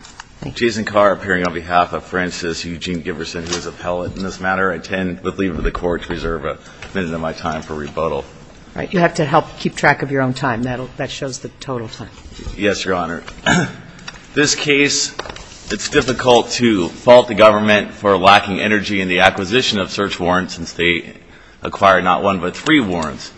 in this matter. I intend, with leave of the Court, to reserve a minute of my time for rebuttal. Right. You have to help keep track of your own time. That shows the total time. Yes, Your Honor. This case, it's difficult to fault the government for lacking energy in the acquisition of search warrants since they acquired not one but three warrants.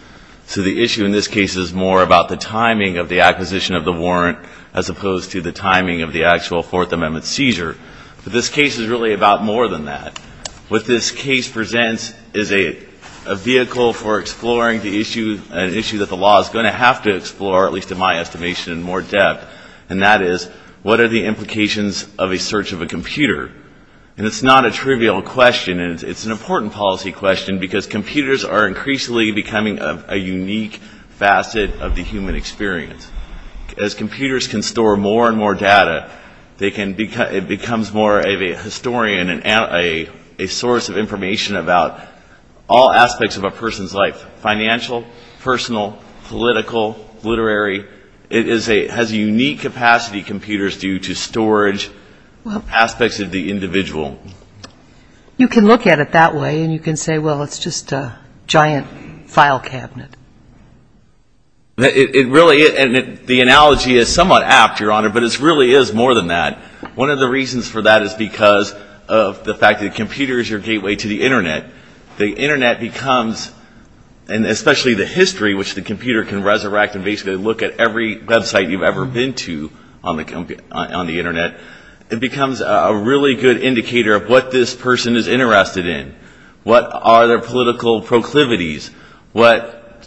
So the issue in this case is more about the timing of the acquisition of the warrant as opposed to the timing of the actual Fourth Amendment seizure. But this case is really about more than that. What this case presents is a vehicle for exploring an issue that the law is going to have to explore, at least in my estimation, in more depth. And that is, what are the implications of a search of a computer? And it's not a trivial question. It's an important policy question because computers are increasingly becoming a unique facet of the human experience. As computers can store more and more data, it becomes more of a historian and a source of information about all aspects of a person's life, financial, personal, political, literary. It has a unique capacity, computers, due to storage aspects of the individual. You can look at it that way and you can say, well, it's just a giant file cabinet. It really, and the analogy is somewhat apt, Your Honor, but it really is more than that. One of the reasons for that is because of the fact that the computer is your gateway to the Internet. The Internet becomes, and especially the history, which the computer can resurrect and basically look at every website you've ever been to on the Internet, it becomes a really good indicator of what this person is interested in. What are their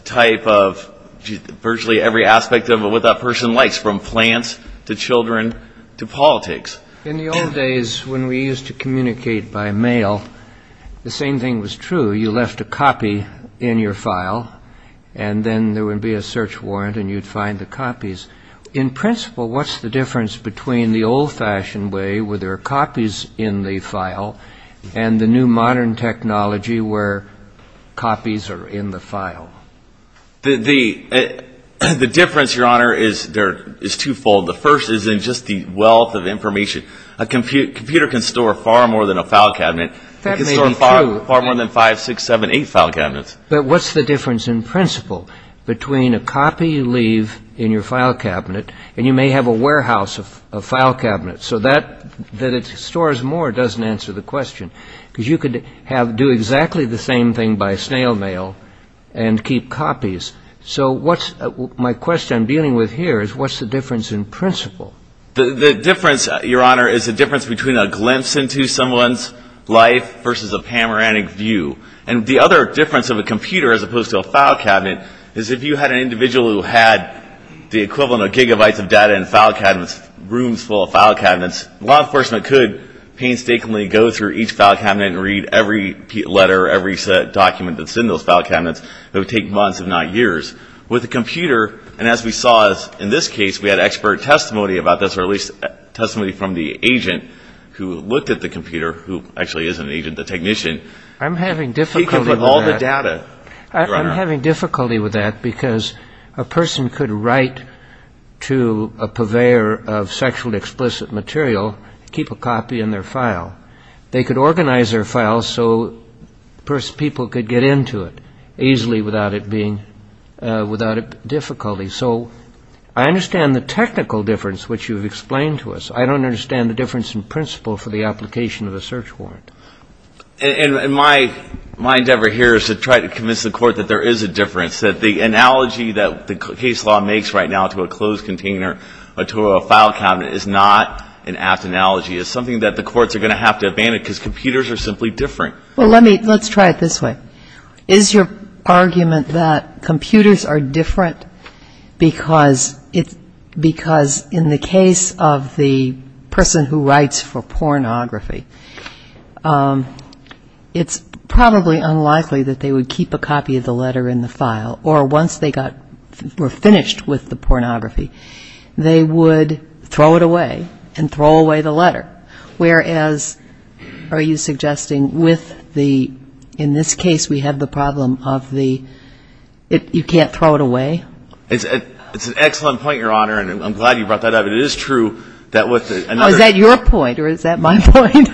types of, virtually every aspect of what that person likes, from plants to children to politics. In the old days, when we used to communicate by mail, the same thing was true. You left a copy in your file and then there would be a search warrant and you'd find the copies. In principle, what's the difference between the old-fashioned way where there are copies in the file and the new modern technology where copies are in the file? The difference, Your Honor, is twofold. The first is in just the wealth of information. A computer can store far more than a file cabinet. That may be true. It can store far more than five, six, seven, eight file cabinets. But what's the difference in principle between a copy you leave in your file cabinet and you may have a warehouse of file cabinets? So that it stores more doesn't answer the question. Because you could do exactly the same thing by snail mail and keep copies. So my question I'm dealing with here is what's the difference in principle? The difference, Your Honor, is the difference between a glimpse into someone's life versus a panoramic view. And the other difference of a computer as opposed to a file cabinet is if you had an individual who had the equivalent of gigabytes of data in file cabinets, rooms full of file cabinets, law enforcement could painstakingly go through each file cabinet and read every letter, every set document that's in those file cabinets. It would take months, if not years. With a computer, and as we saw in this case, we had expert testimony about this, or at least testimony from the agent who looked at the computer, who actually is an agent, the technician. I'm having difficulty with that. He can put all the data, Your Honor. I'm having difficulty with that because a person could write to a purveyor of sexually explicit material, keep a copy in their file. They could organize their file so people could get into it easily without it being, without it being a difficulty. So I understand the technical difference, which you've explained to us. I don't understand the difference in principle for the application of a search warrant. And my endeavor here is to try to convince the Court that there is a difference, that the analogy that the case law makes right now to a closed container, to a file cabinet, is not an apt analogy. It's something that the courts are going to have to abandon because computers are simply different. Well, let me, let's try it this way. Is your argument that computers are different because it's, because in the case of the person who writes for pornography, it's probably unlikely that they would keep a copy of the letter in the file or once they got, were finished with the pornography, they would throw it away and throw away the letter? Whereas, are you suggesting with the, in this case we have the problem of the, you can't throw it away? It's an excellent point, Your Honor, and I'm glad you brought that up. It is true that with another... Oh, is that your point or is that my point?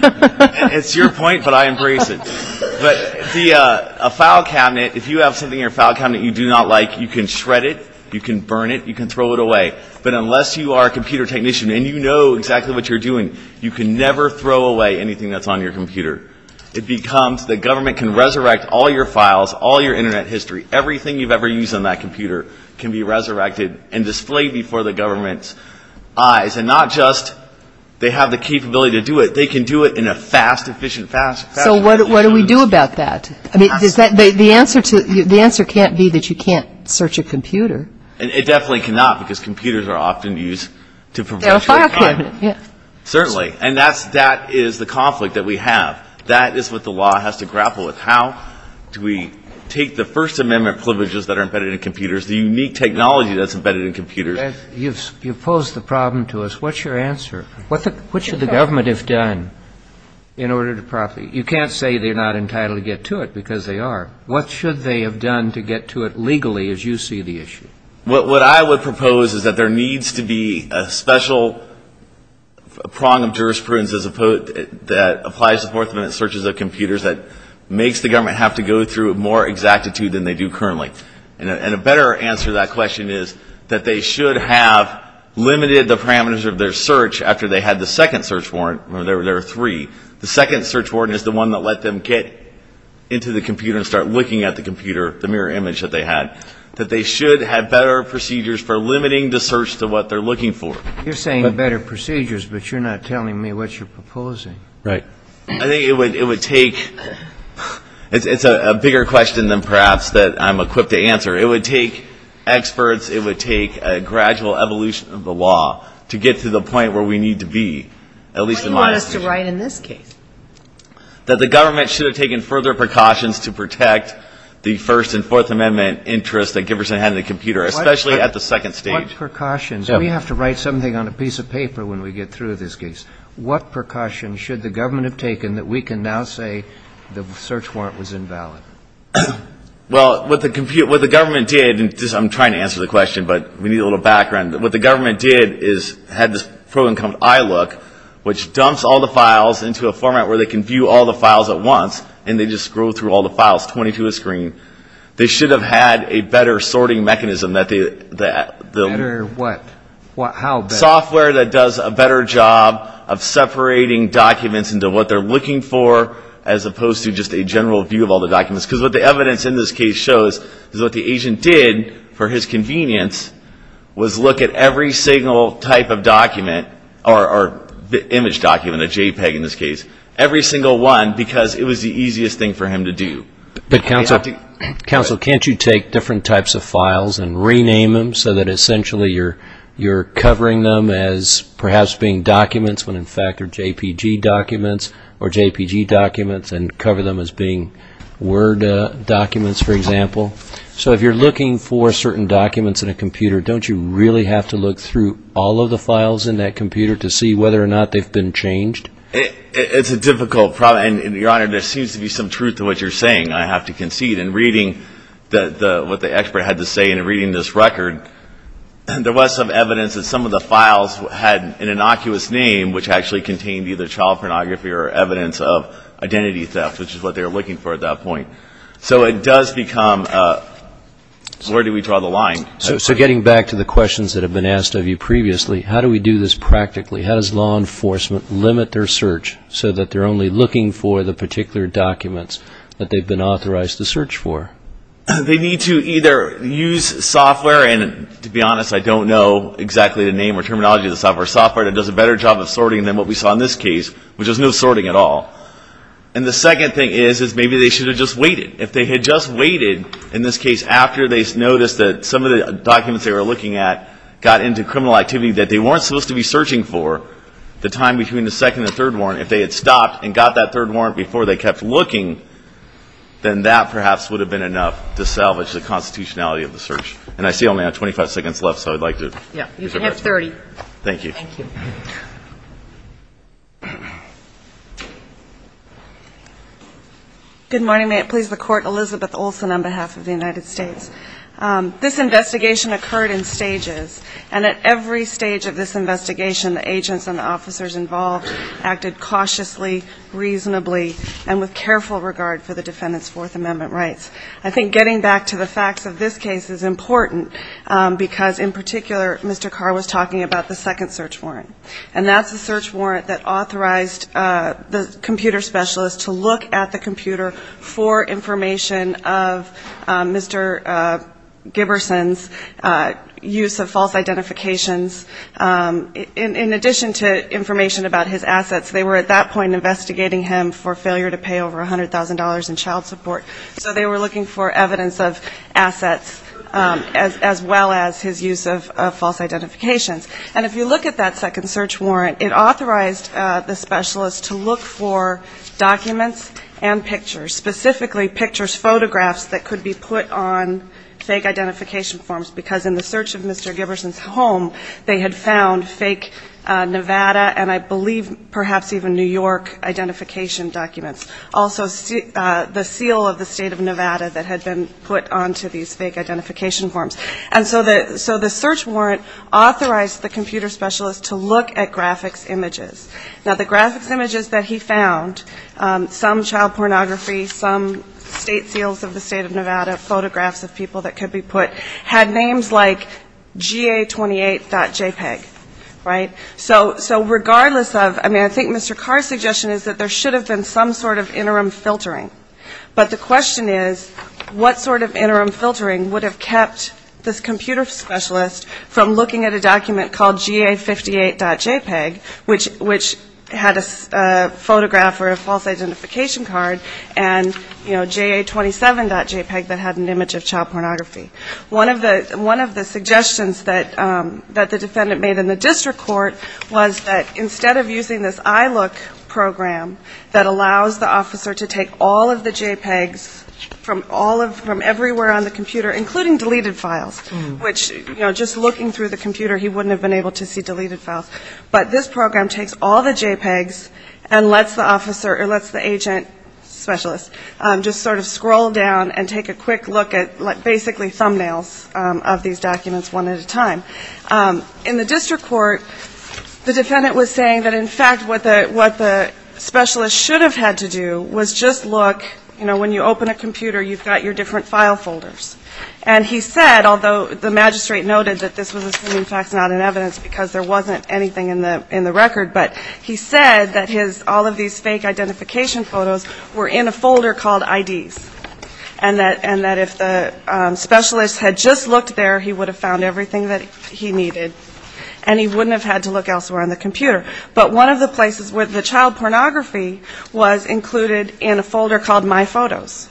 It's your point, but I embrace it. But the, a file cabinet, if you have something in your file cabinet you do not like, you can shred it, you can burn it, you can throw it away. But unless you are a computer technician and you know exactly what you're doing, you can never throw away anything that's on your computer. It becomes, the government can resurrect all your files, all your Internet history, everything you've ever used on that computer can be resurrected and displayed before the government's eyes. And not just they have the capability to do it, they can do it in a fast, efficient, fast, fast way. So what do we do about that? The answer can't be that you can't search a computer. It definitely cannot because computers are often used to... They're a file cabinet. Certainly. And that is the conflict that we have. That is what the law has to grapple with. How do we take the First Amendment privileges that are embedded in computers, the unique technology that's embedded in computers... You've posed the problem to us. What's your answer? What should the government have done in order to properly... You can't say they're not entitled to get to it because they are. What should they have done to get to it legally as you see the issue? What I would propose is that there needs to be a special prong of jurisprudence that applies to Fourth Amendment searches of computers that makes the government have to go through more exactitude than they do currently. And a better answer to that question is that they should have limited the parameters of their search after they had the second search warrant. Remember, there were three. The second search warrant is the one that let them get into the computer and start looking at the computer, the mirror image that they had. That they should have better procedures for limiting the search to what they're looking for. You're saying better procedures, but you're not telling me what you're proposing. Right. I think it would take... It's a bigger question than perhaps that I'm equipped to answer. It would take experts. It would take a gradual evolution of the law to get to the point where we need to be, at least in my estimation. What do you want us to write in this case? That the government should have taken further precautions to protect the First and Fourth Amendment interests that Giberson had in the computer, especially at the second stage. What precautions? We have to write something on a piece of paper when we get through this case. What precautions should the government have taken that we can now say the search warrant was invalid? Well, what the government did, and I'm trying to answer the question, but we need a little background. What the government did is had this program called iLook, which dumps all the files into a format where they can view all the files at once, and they just scroll through all the files, 20 to a screen. They should have had a better sorting mechanism that they... Better what? How better? Software that does a better job of separating documents into what they're looking for as opposed to just a general view of all the documents. Because what the evidence in this case shows is what the agent did for his convenience was look at every single type of document, or image document, a JPEG in this case, every single one because it was the easiest thing for him to do. But counsel, can't you take different types of files and rename them so that essentially you're covering them as perhaps being documents when in fact they're JPEG documents or JPEG documents and cover them as being Word documents, for example? So if you're looking for certain documents in a computer, don't you really have to look through all of the files in that computer to see whether or not they've been changed? It's a difficult problem. And, Your Honor, there seems to be some truth to what you're saying. I have to concede. In reading what the expert had to say in reading this record, there was some evidence that some of the files had an innocuous name which actually contained either child pornography or evidence of identity theft, which is what they were looking for at that point. So it does become where do we draw the line? So getting back to the questions that have been asked of you previously, how do we do this practically? How does law enforcement limit their search so that they're only looking for the particular documents that they've been authorized to search for? They need to either use software and, to be honest, I don't know exactly the name or terminology of the software, software that does a better job of sorting than what we saw in this case, which was no sorting at all. And the second thing is maybe they should have just waited. If they had just waited, in this case, after they noticed that some of the documents they were looking at got into criminal activity that they weren't supposed to be searching for the time between the second and third warrant, if they had stopped and got that third warrant before they kept looking, then that perhaps would have been enough to salvage the constitutionality of the search. And I see only 25 seconds left, so I'd like to... Yeah, you can have 30. Thank you. Thank you. Good morning. May it please the Court. Elizabeth Olsen on behalf of the United States. This investigation occurred in stages, and at every stage of this investigation, the agents and the officers involved acted cautiously, reasonably, and with careful regard for the defendant's Fourth Amendment rights. I think getting back to the facts of this case is important because, in particular, Mr. Carr was talking about the second search warrant, and that's the search warrant that authorized the computer specialist to look at the computer for information of Mr. Giberson's use of false identifications. In addition to information about his assets, they were at that point investigating him for failure to pay over $100,000 in child support. So they were looking for evidence of assets as well as his use of false identifications. And if you look at that second search warrant, it authorized the specialist to look for documents and pictures, specifically pictures, photographs that could be put on fake identification forms, because in the search of Mr. Giberson's home, they had found fake Nevada and I believe perhaps even New York identification documents, also the seal of the state of Nevada that had been put onto these fake identification forms. And so the search warrant authorized the computer specialist to look at graphics images. Now, the graphics images that he found, some child pornography, some state seals of the state of Nevada, photographs of people that could be put, had names like GA28.JPEG, right? So regardless of, I mean, I think Mr. Carr's suggestion is that there should have been some sort of interim filtering. But the question is what sort of interim filtering would have kept this computer specialist from looking at a document called GA58.JPEG, which had a photograph or a false identification card, and, you know, GA27.JPEG that had an image of child pornography. One of the suggestions that the defendant made in the district court was that instead of using this ILOOK program that allows the officer to take all of the JPEGs from everywhere on the computer, including deleted files, which, you know, just looking through the computer, he wouldn't have been able to see deleted files, but this program takes all the JPEGs and lets the agent specialist just sort of scroll down and take a quick look at basically thumbnails of these documents one at a time. In the district court, the defendant was saying that, in fact, what the specialist should have had to do was just look, you know, when you open a computer, you've got your different file folders. And he said, although the magistrate noted that this was, in fact, not in evidence, because there wasn't anything in the record, but he said that his, all of these fake identification photos were in a folder called IDs, and that if the specialist had just looked there, he would have found everything that he needed, and he wouldn't have had to look elsewhere on the computer. But one of the places where the child pornography was included in a folder called My Photos.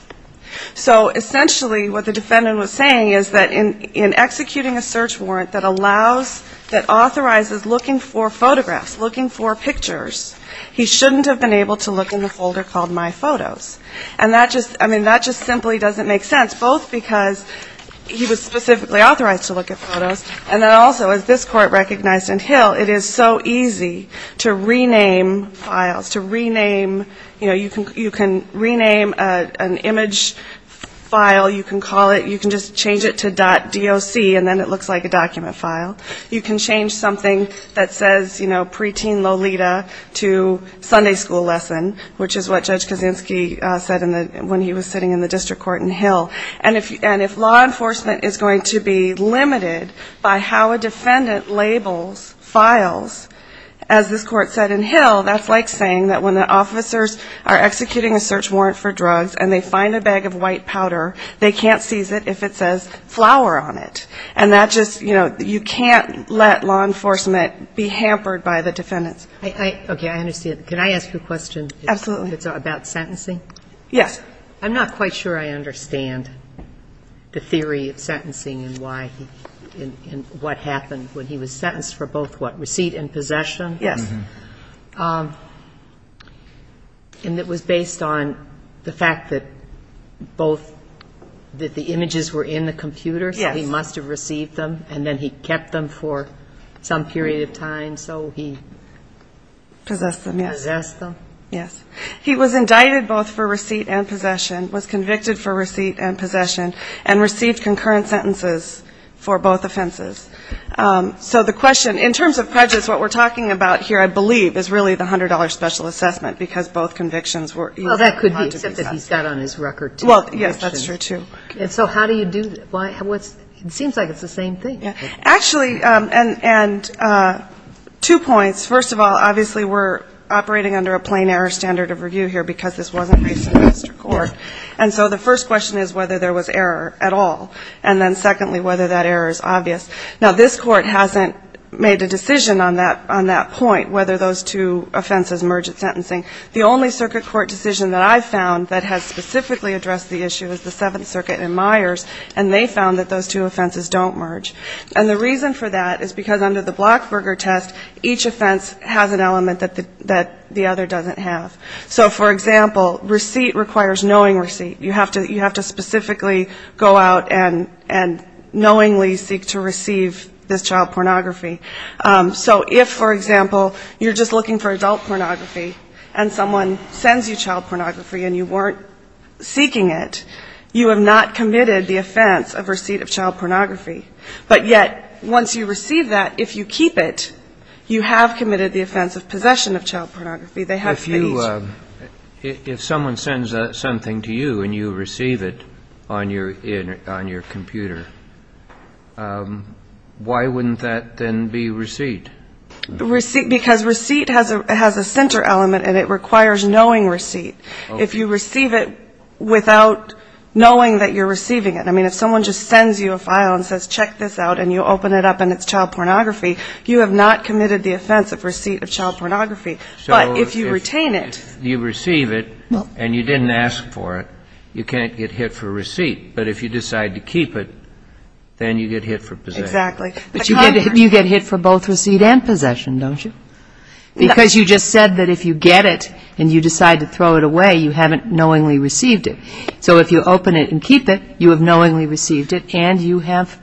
So essentially what the defendant was saying is that in executing a search warrant that allows, that authorizes looking for photographs, looking for pictures, he shouldn't have been able to look in the folder called My Photos. And that just, I mean, that just simply doesn't make sense, both because he was specifically authorized to look at photos, and then also, as this court recognized in Hill, it is so easy to rename files, to rename, you know, you can rename an image file, you can call it, you can just change it to .doc, and then it looks like a document file. You can change something that says, you know, preteen Lolita to Sunday school lesson, which is what Judge Kaczynski said when he was sitting in the district court in Hill. And if law enforcement is going to be limited by how a defendant labels files, as this court said in Hill, that's like saying that when the officers are executing a search warrant for drugs and they find a bag of white powder, they can't seize it if it says flower on it. And that just, you know, you can't let law enforcement be hampered by the defendants. Okay. I understand. Can I ask you a question? Absolutely. It's about sentencing? Yes. I'm not quite sure I understand the theory of sentencing and why, and what happened when he was sentenced for both what, receipt and possession? Yes. And it was based on the fact that both, that the images were in the computer, and so he... Possessed them, yes. Possessed them? Yes. He was indicted both for receipt and possession, was convicted for receipt and possession, and received concurrent sentences for both offenses. So the question, in terms of prejudice, what we're talking about here, I believe, is really the $100 special assessment, because both convictions were easy not to be assessed. Well, that could be, except that he's got on his record two convictions. Well, yes, that's true, too. And so how do you do that? It seems like it's the same thing. Actually, and two points. First of all, obviously we're operating under a plain error standard of review here, because this wasn't raised in the Supreme Court. And so the first question is whether there was error at all. And then secondly, whether that error is obvious. Now, this Court hasn't made a decision on that point, whether those two offenses merge at sentencing. The only circuit court decision that I've found that has specifically addressed the issue is the Seventh Circuit and Myers, and they found that those two offenses don't merge. And the reason for that is because under the Blackberger test, each offense has an element that the other doesn't have. So, for example, receipt requires knowing receipt. You have to specifically go out and knowingly seek to receive this child pornography. So if, for example, you're just looking for adult pornography and someone sends you child pornography and you weren't seeking it, you have not committed the offense of receipt of child pornography. But yet once you receive that, if you keep it, you have committed the offense of possession of child pornography. They have speech. If someone sends something to you and you receive it on your computer, why wouldn't that then be receipt? Because receipt has a center element and it requires knowing receipt. If you receive it without knowing that you're receiving it. I mean, if someone just sends you a file and says, check this out, and you open it up and it's child pornography, you have not committed the offense of receipt of child pornography. But if you retain it. So if you receive it and you didn't ask for it, you can't get hit for receipt. But if you decide to keep it, then you get hit for possession. Exactly. But you get hit for both receipt and possession, don't you? Because you just said that if you get it and you decide to throw it away, you haven't knowingly received it. So if you open it and keep it, you have knowingly received it and you have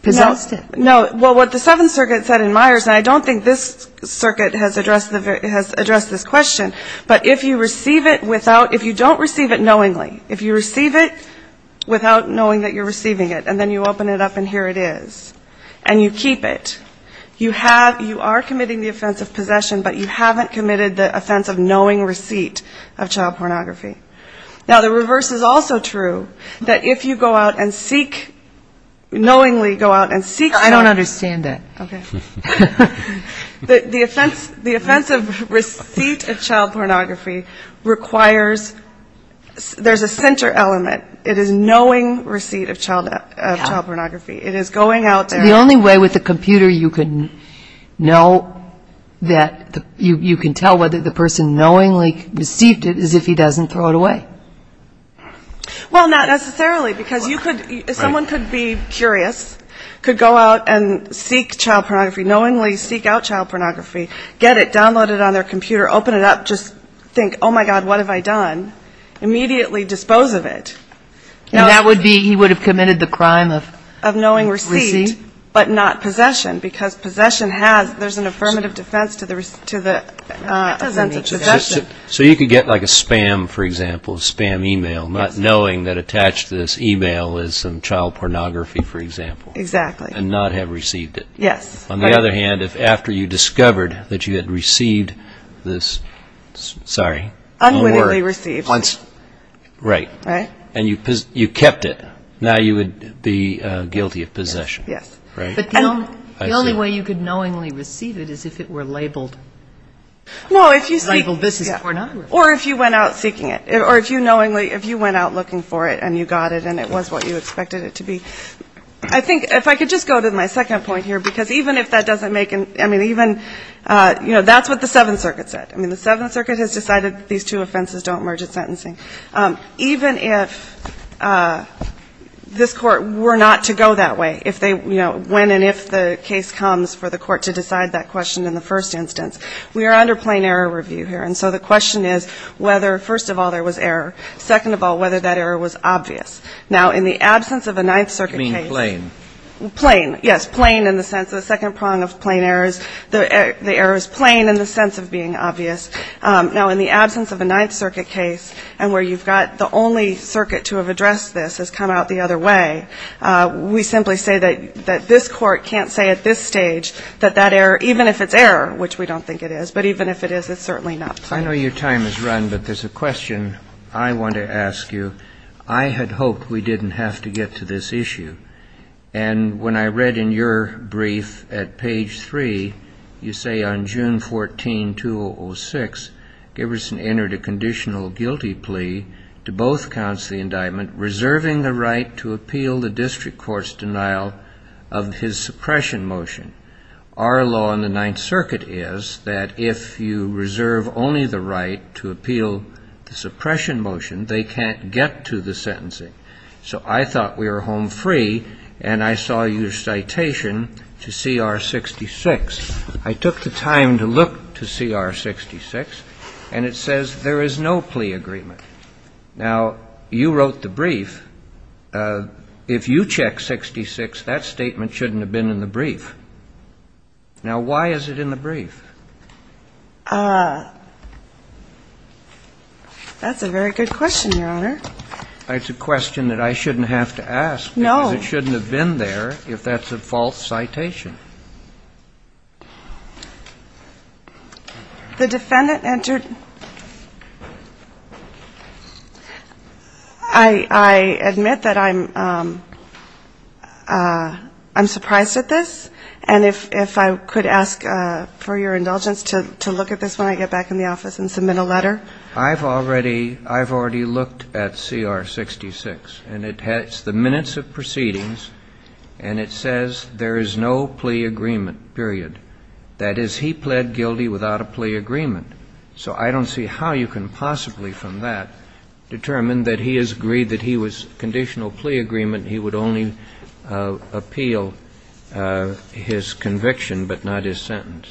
possessed it. No. Well, what the Seventh Circuit said in Myers, and I don't think this circuit has addressed this question, but if you receive it without, if you don't receive it knowingly, if you receive it without knowing that you're receiving it and then you open it up and here it is, and you keep it, you have, you are committing the offense of possession, but you haven't committed the offense of knowing receipt of child pornography. Now, the reverse is also true, that if you go out and seek, knowingly go out and seek. I don't understand that. The offense of receipt of child pornography requires, there's a center element. It is knowing receipt of child pornography. It is going out there. The only way with a computer you can know that, you can tell whether the person knowingly received it is if he doesn't throw it away. Well, not necessarily because you could, someone could be curious, could go out and seek child pornography knowingly seek out child pornography, get it, download it on their computer, open it up, just think, oh, my God, what have I done. Immediately dispose of it. And that would be, he would have committed the crime of receipt. Of knowing receipt, but not possession, because possession has, there's an affirmative defense to the offense of possession. So you could get like a spam, for example, a spam email, not knowing that attached to this email is some child pornography, for example. Exactly. And not have received it. Yes. On the other hand, if after you discovered that you had received this, sorry. Unwittingly received. Right. Right. And you kept it, now you would be guilty of possession. Yes. Right. But the only way you could knowingly receive it is if it were labeled. Well, if you say. Labeled business pornography. Or if you went out seeking it, or if you knowingly, if you went out looking for it and you got it and it was what you expected it to be. I think, if I could just go to my second point here. Because even if that doesn't make, I mean, even, you know, that's what the Seventh Circuit said. I mean, the Seventh Circuit has decided that these two offenses don't merge at sentencing. Even if this Court were not to go that way, if they, you know, when and if the case comes for the Court to decide that question in the first instance, we are under plain error review here. And so the question is whether, first of all, there was error. Second of all, whether that error was obvious. Now, in the absence of a Ninth Circuit case. You mean plain. Plain. Yes, plain in the sense of the second prong of plain errors. The error is plain in the sense of being obvious. Now, in the absence of a Ninth Circuit case, and where you've got the only circuit to have addressed this has come out the other way, we simply say that this Court can't say at this stage that that error, even if it's error, which we don't think it is, but even if it is, it's certainly not plain. I know your time is run, but there's a question I want to ask you. I had hoped we didn't have to get to this issue. And when I read in your brief at page three, you say on June 14, 2006, Giberson entered a conditional guilty plea to both counts of the indictment, reserving the right to appeal the district court's denial of his suppression motion. Our law in the Ninth Circuit is that if you reserve only the right to appeal the suppression motion, they can't get to the sentencing. So I thought we were home free, and I saw your citation to CR 66. I took the time to look to CR 66, and it says there is no plea agreement. Now, you wrote the brief. If you check 66, that statement shouldn't have been in the brief. Now, why is it in the brief? That's a very good question, Your Honor. It's a question that I shouldn't have to ask because it shouldn't have been there if that's a false citation. The defendant entered ñ I admit that I'm surprised at this. And if I could ask for your indulgence to look at this when I get back in the office and submit a letter. I've already looked at CR 66, and it's the minutes of proceedings, and it says there is no plea agreement. Period. That is, he pled guilty without a plea agreement. So I don't see how you can possibly from that determine that he has agreed that he was conditional plea agreement, he would only appeal his conviction but not his sentence.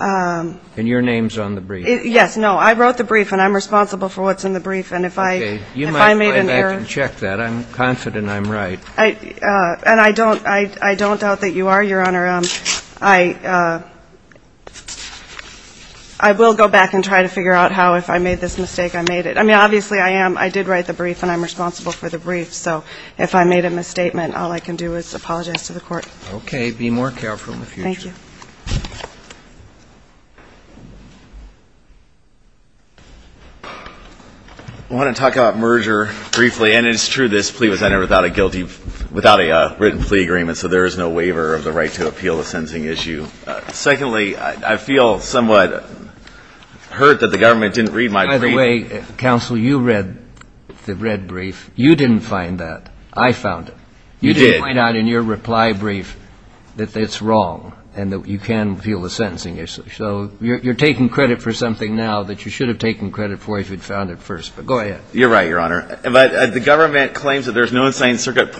And your name's on the brief. Yes. No. I wrote the brief, and I'm responsible for what's in the brief. And if I made an error ñ Okay. You might go back and check that. I'm confident I'm right. And I don't doubt that you are, Your Honor. I will go back and try to figure out how, if I made this mistake, I made it. I mean, obviously, I did write the brief, and I'm responsible for the brief. So if I made a misstatement, all I can do is apologize to the court. Okay. Be more careful in the future. Thank you. I want to talk about merger briefly. And it's true this plea was entered without a written plea agreement, so there is no waiver of the right to appeal the sentencing issue. Secondly, I feel somewhat hurt that the government didn't read my brief. By the way, counsel, you read the red brief. You didn't find that. I found it. You did. You didn't find out in your reply brief that it's wrong and that you can appeal the sentencing issue. So you're taking credit for something now that you should have taken credit for if you'd found it first. But go ahead. You're right, Your Honor. But the government claims that there's no Ninth Circuit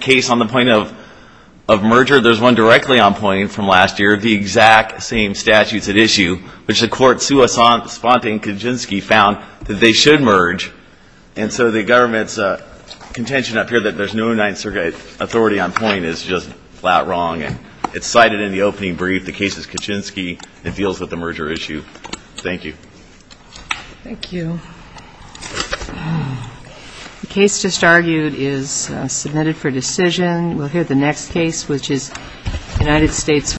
case on the point of merger. There's one directly on point from last year, the exact same statutes at issue, which the court, sua sponte and Kaczynski, found that they should merge. And so the government's contention up here that there's no Ninth Circuit authority on point is just flat wrong, and it's cited in the opening brief. The case is Kaczynski. It deals with the merger issue. Thank you. Thank you. The case just argued is submitted for decision. We'll hear the next case, which is United States v. New York.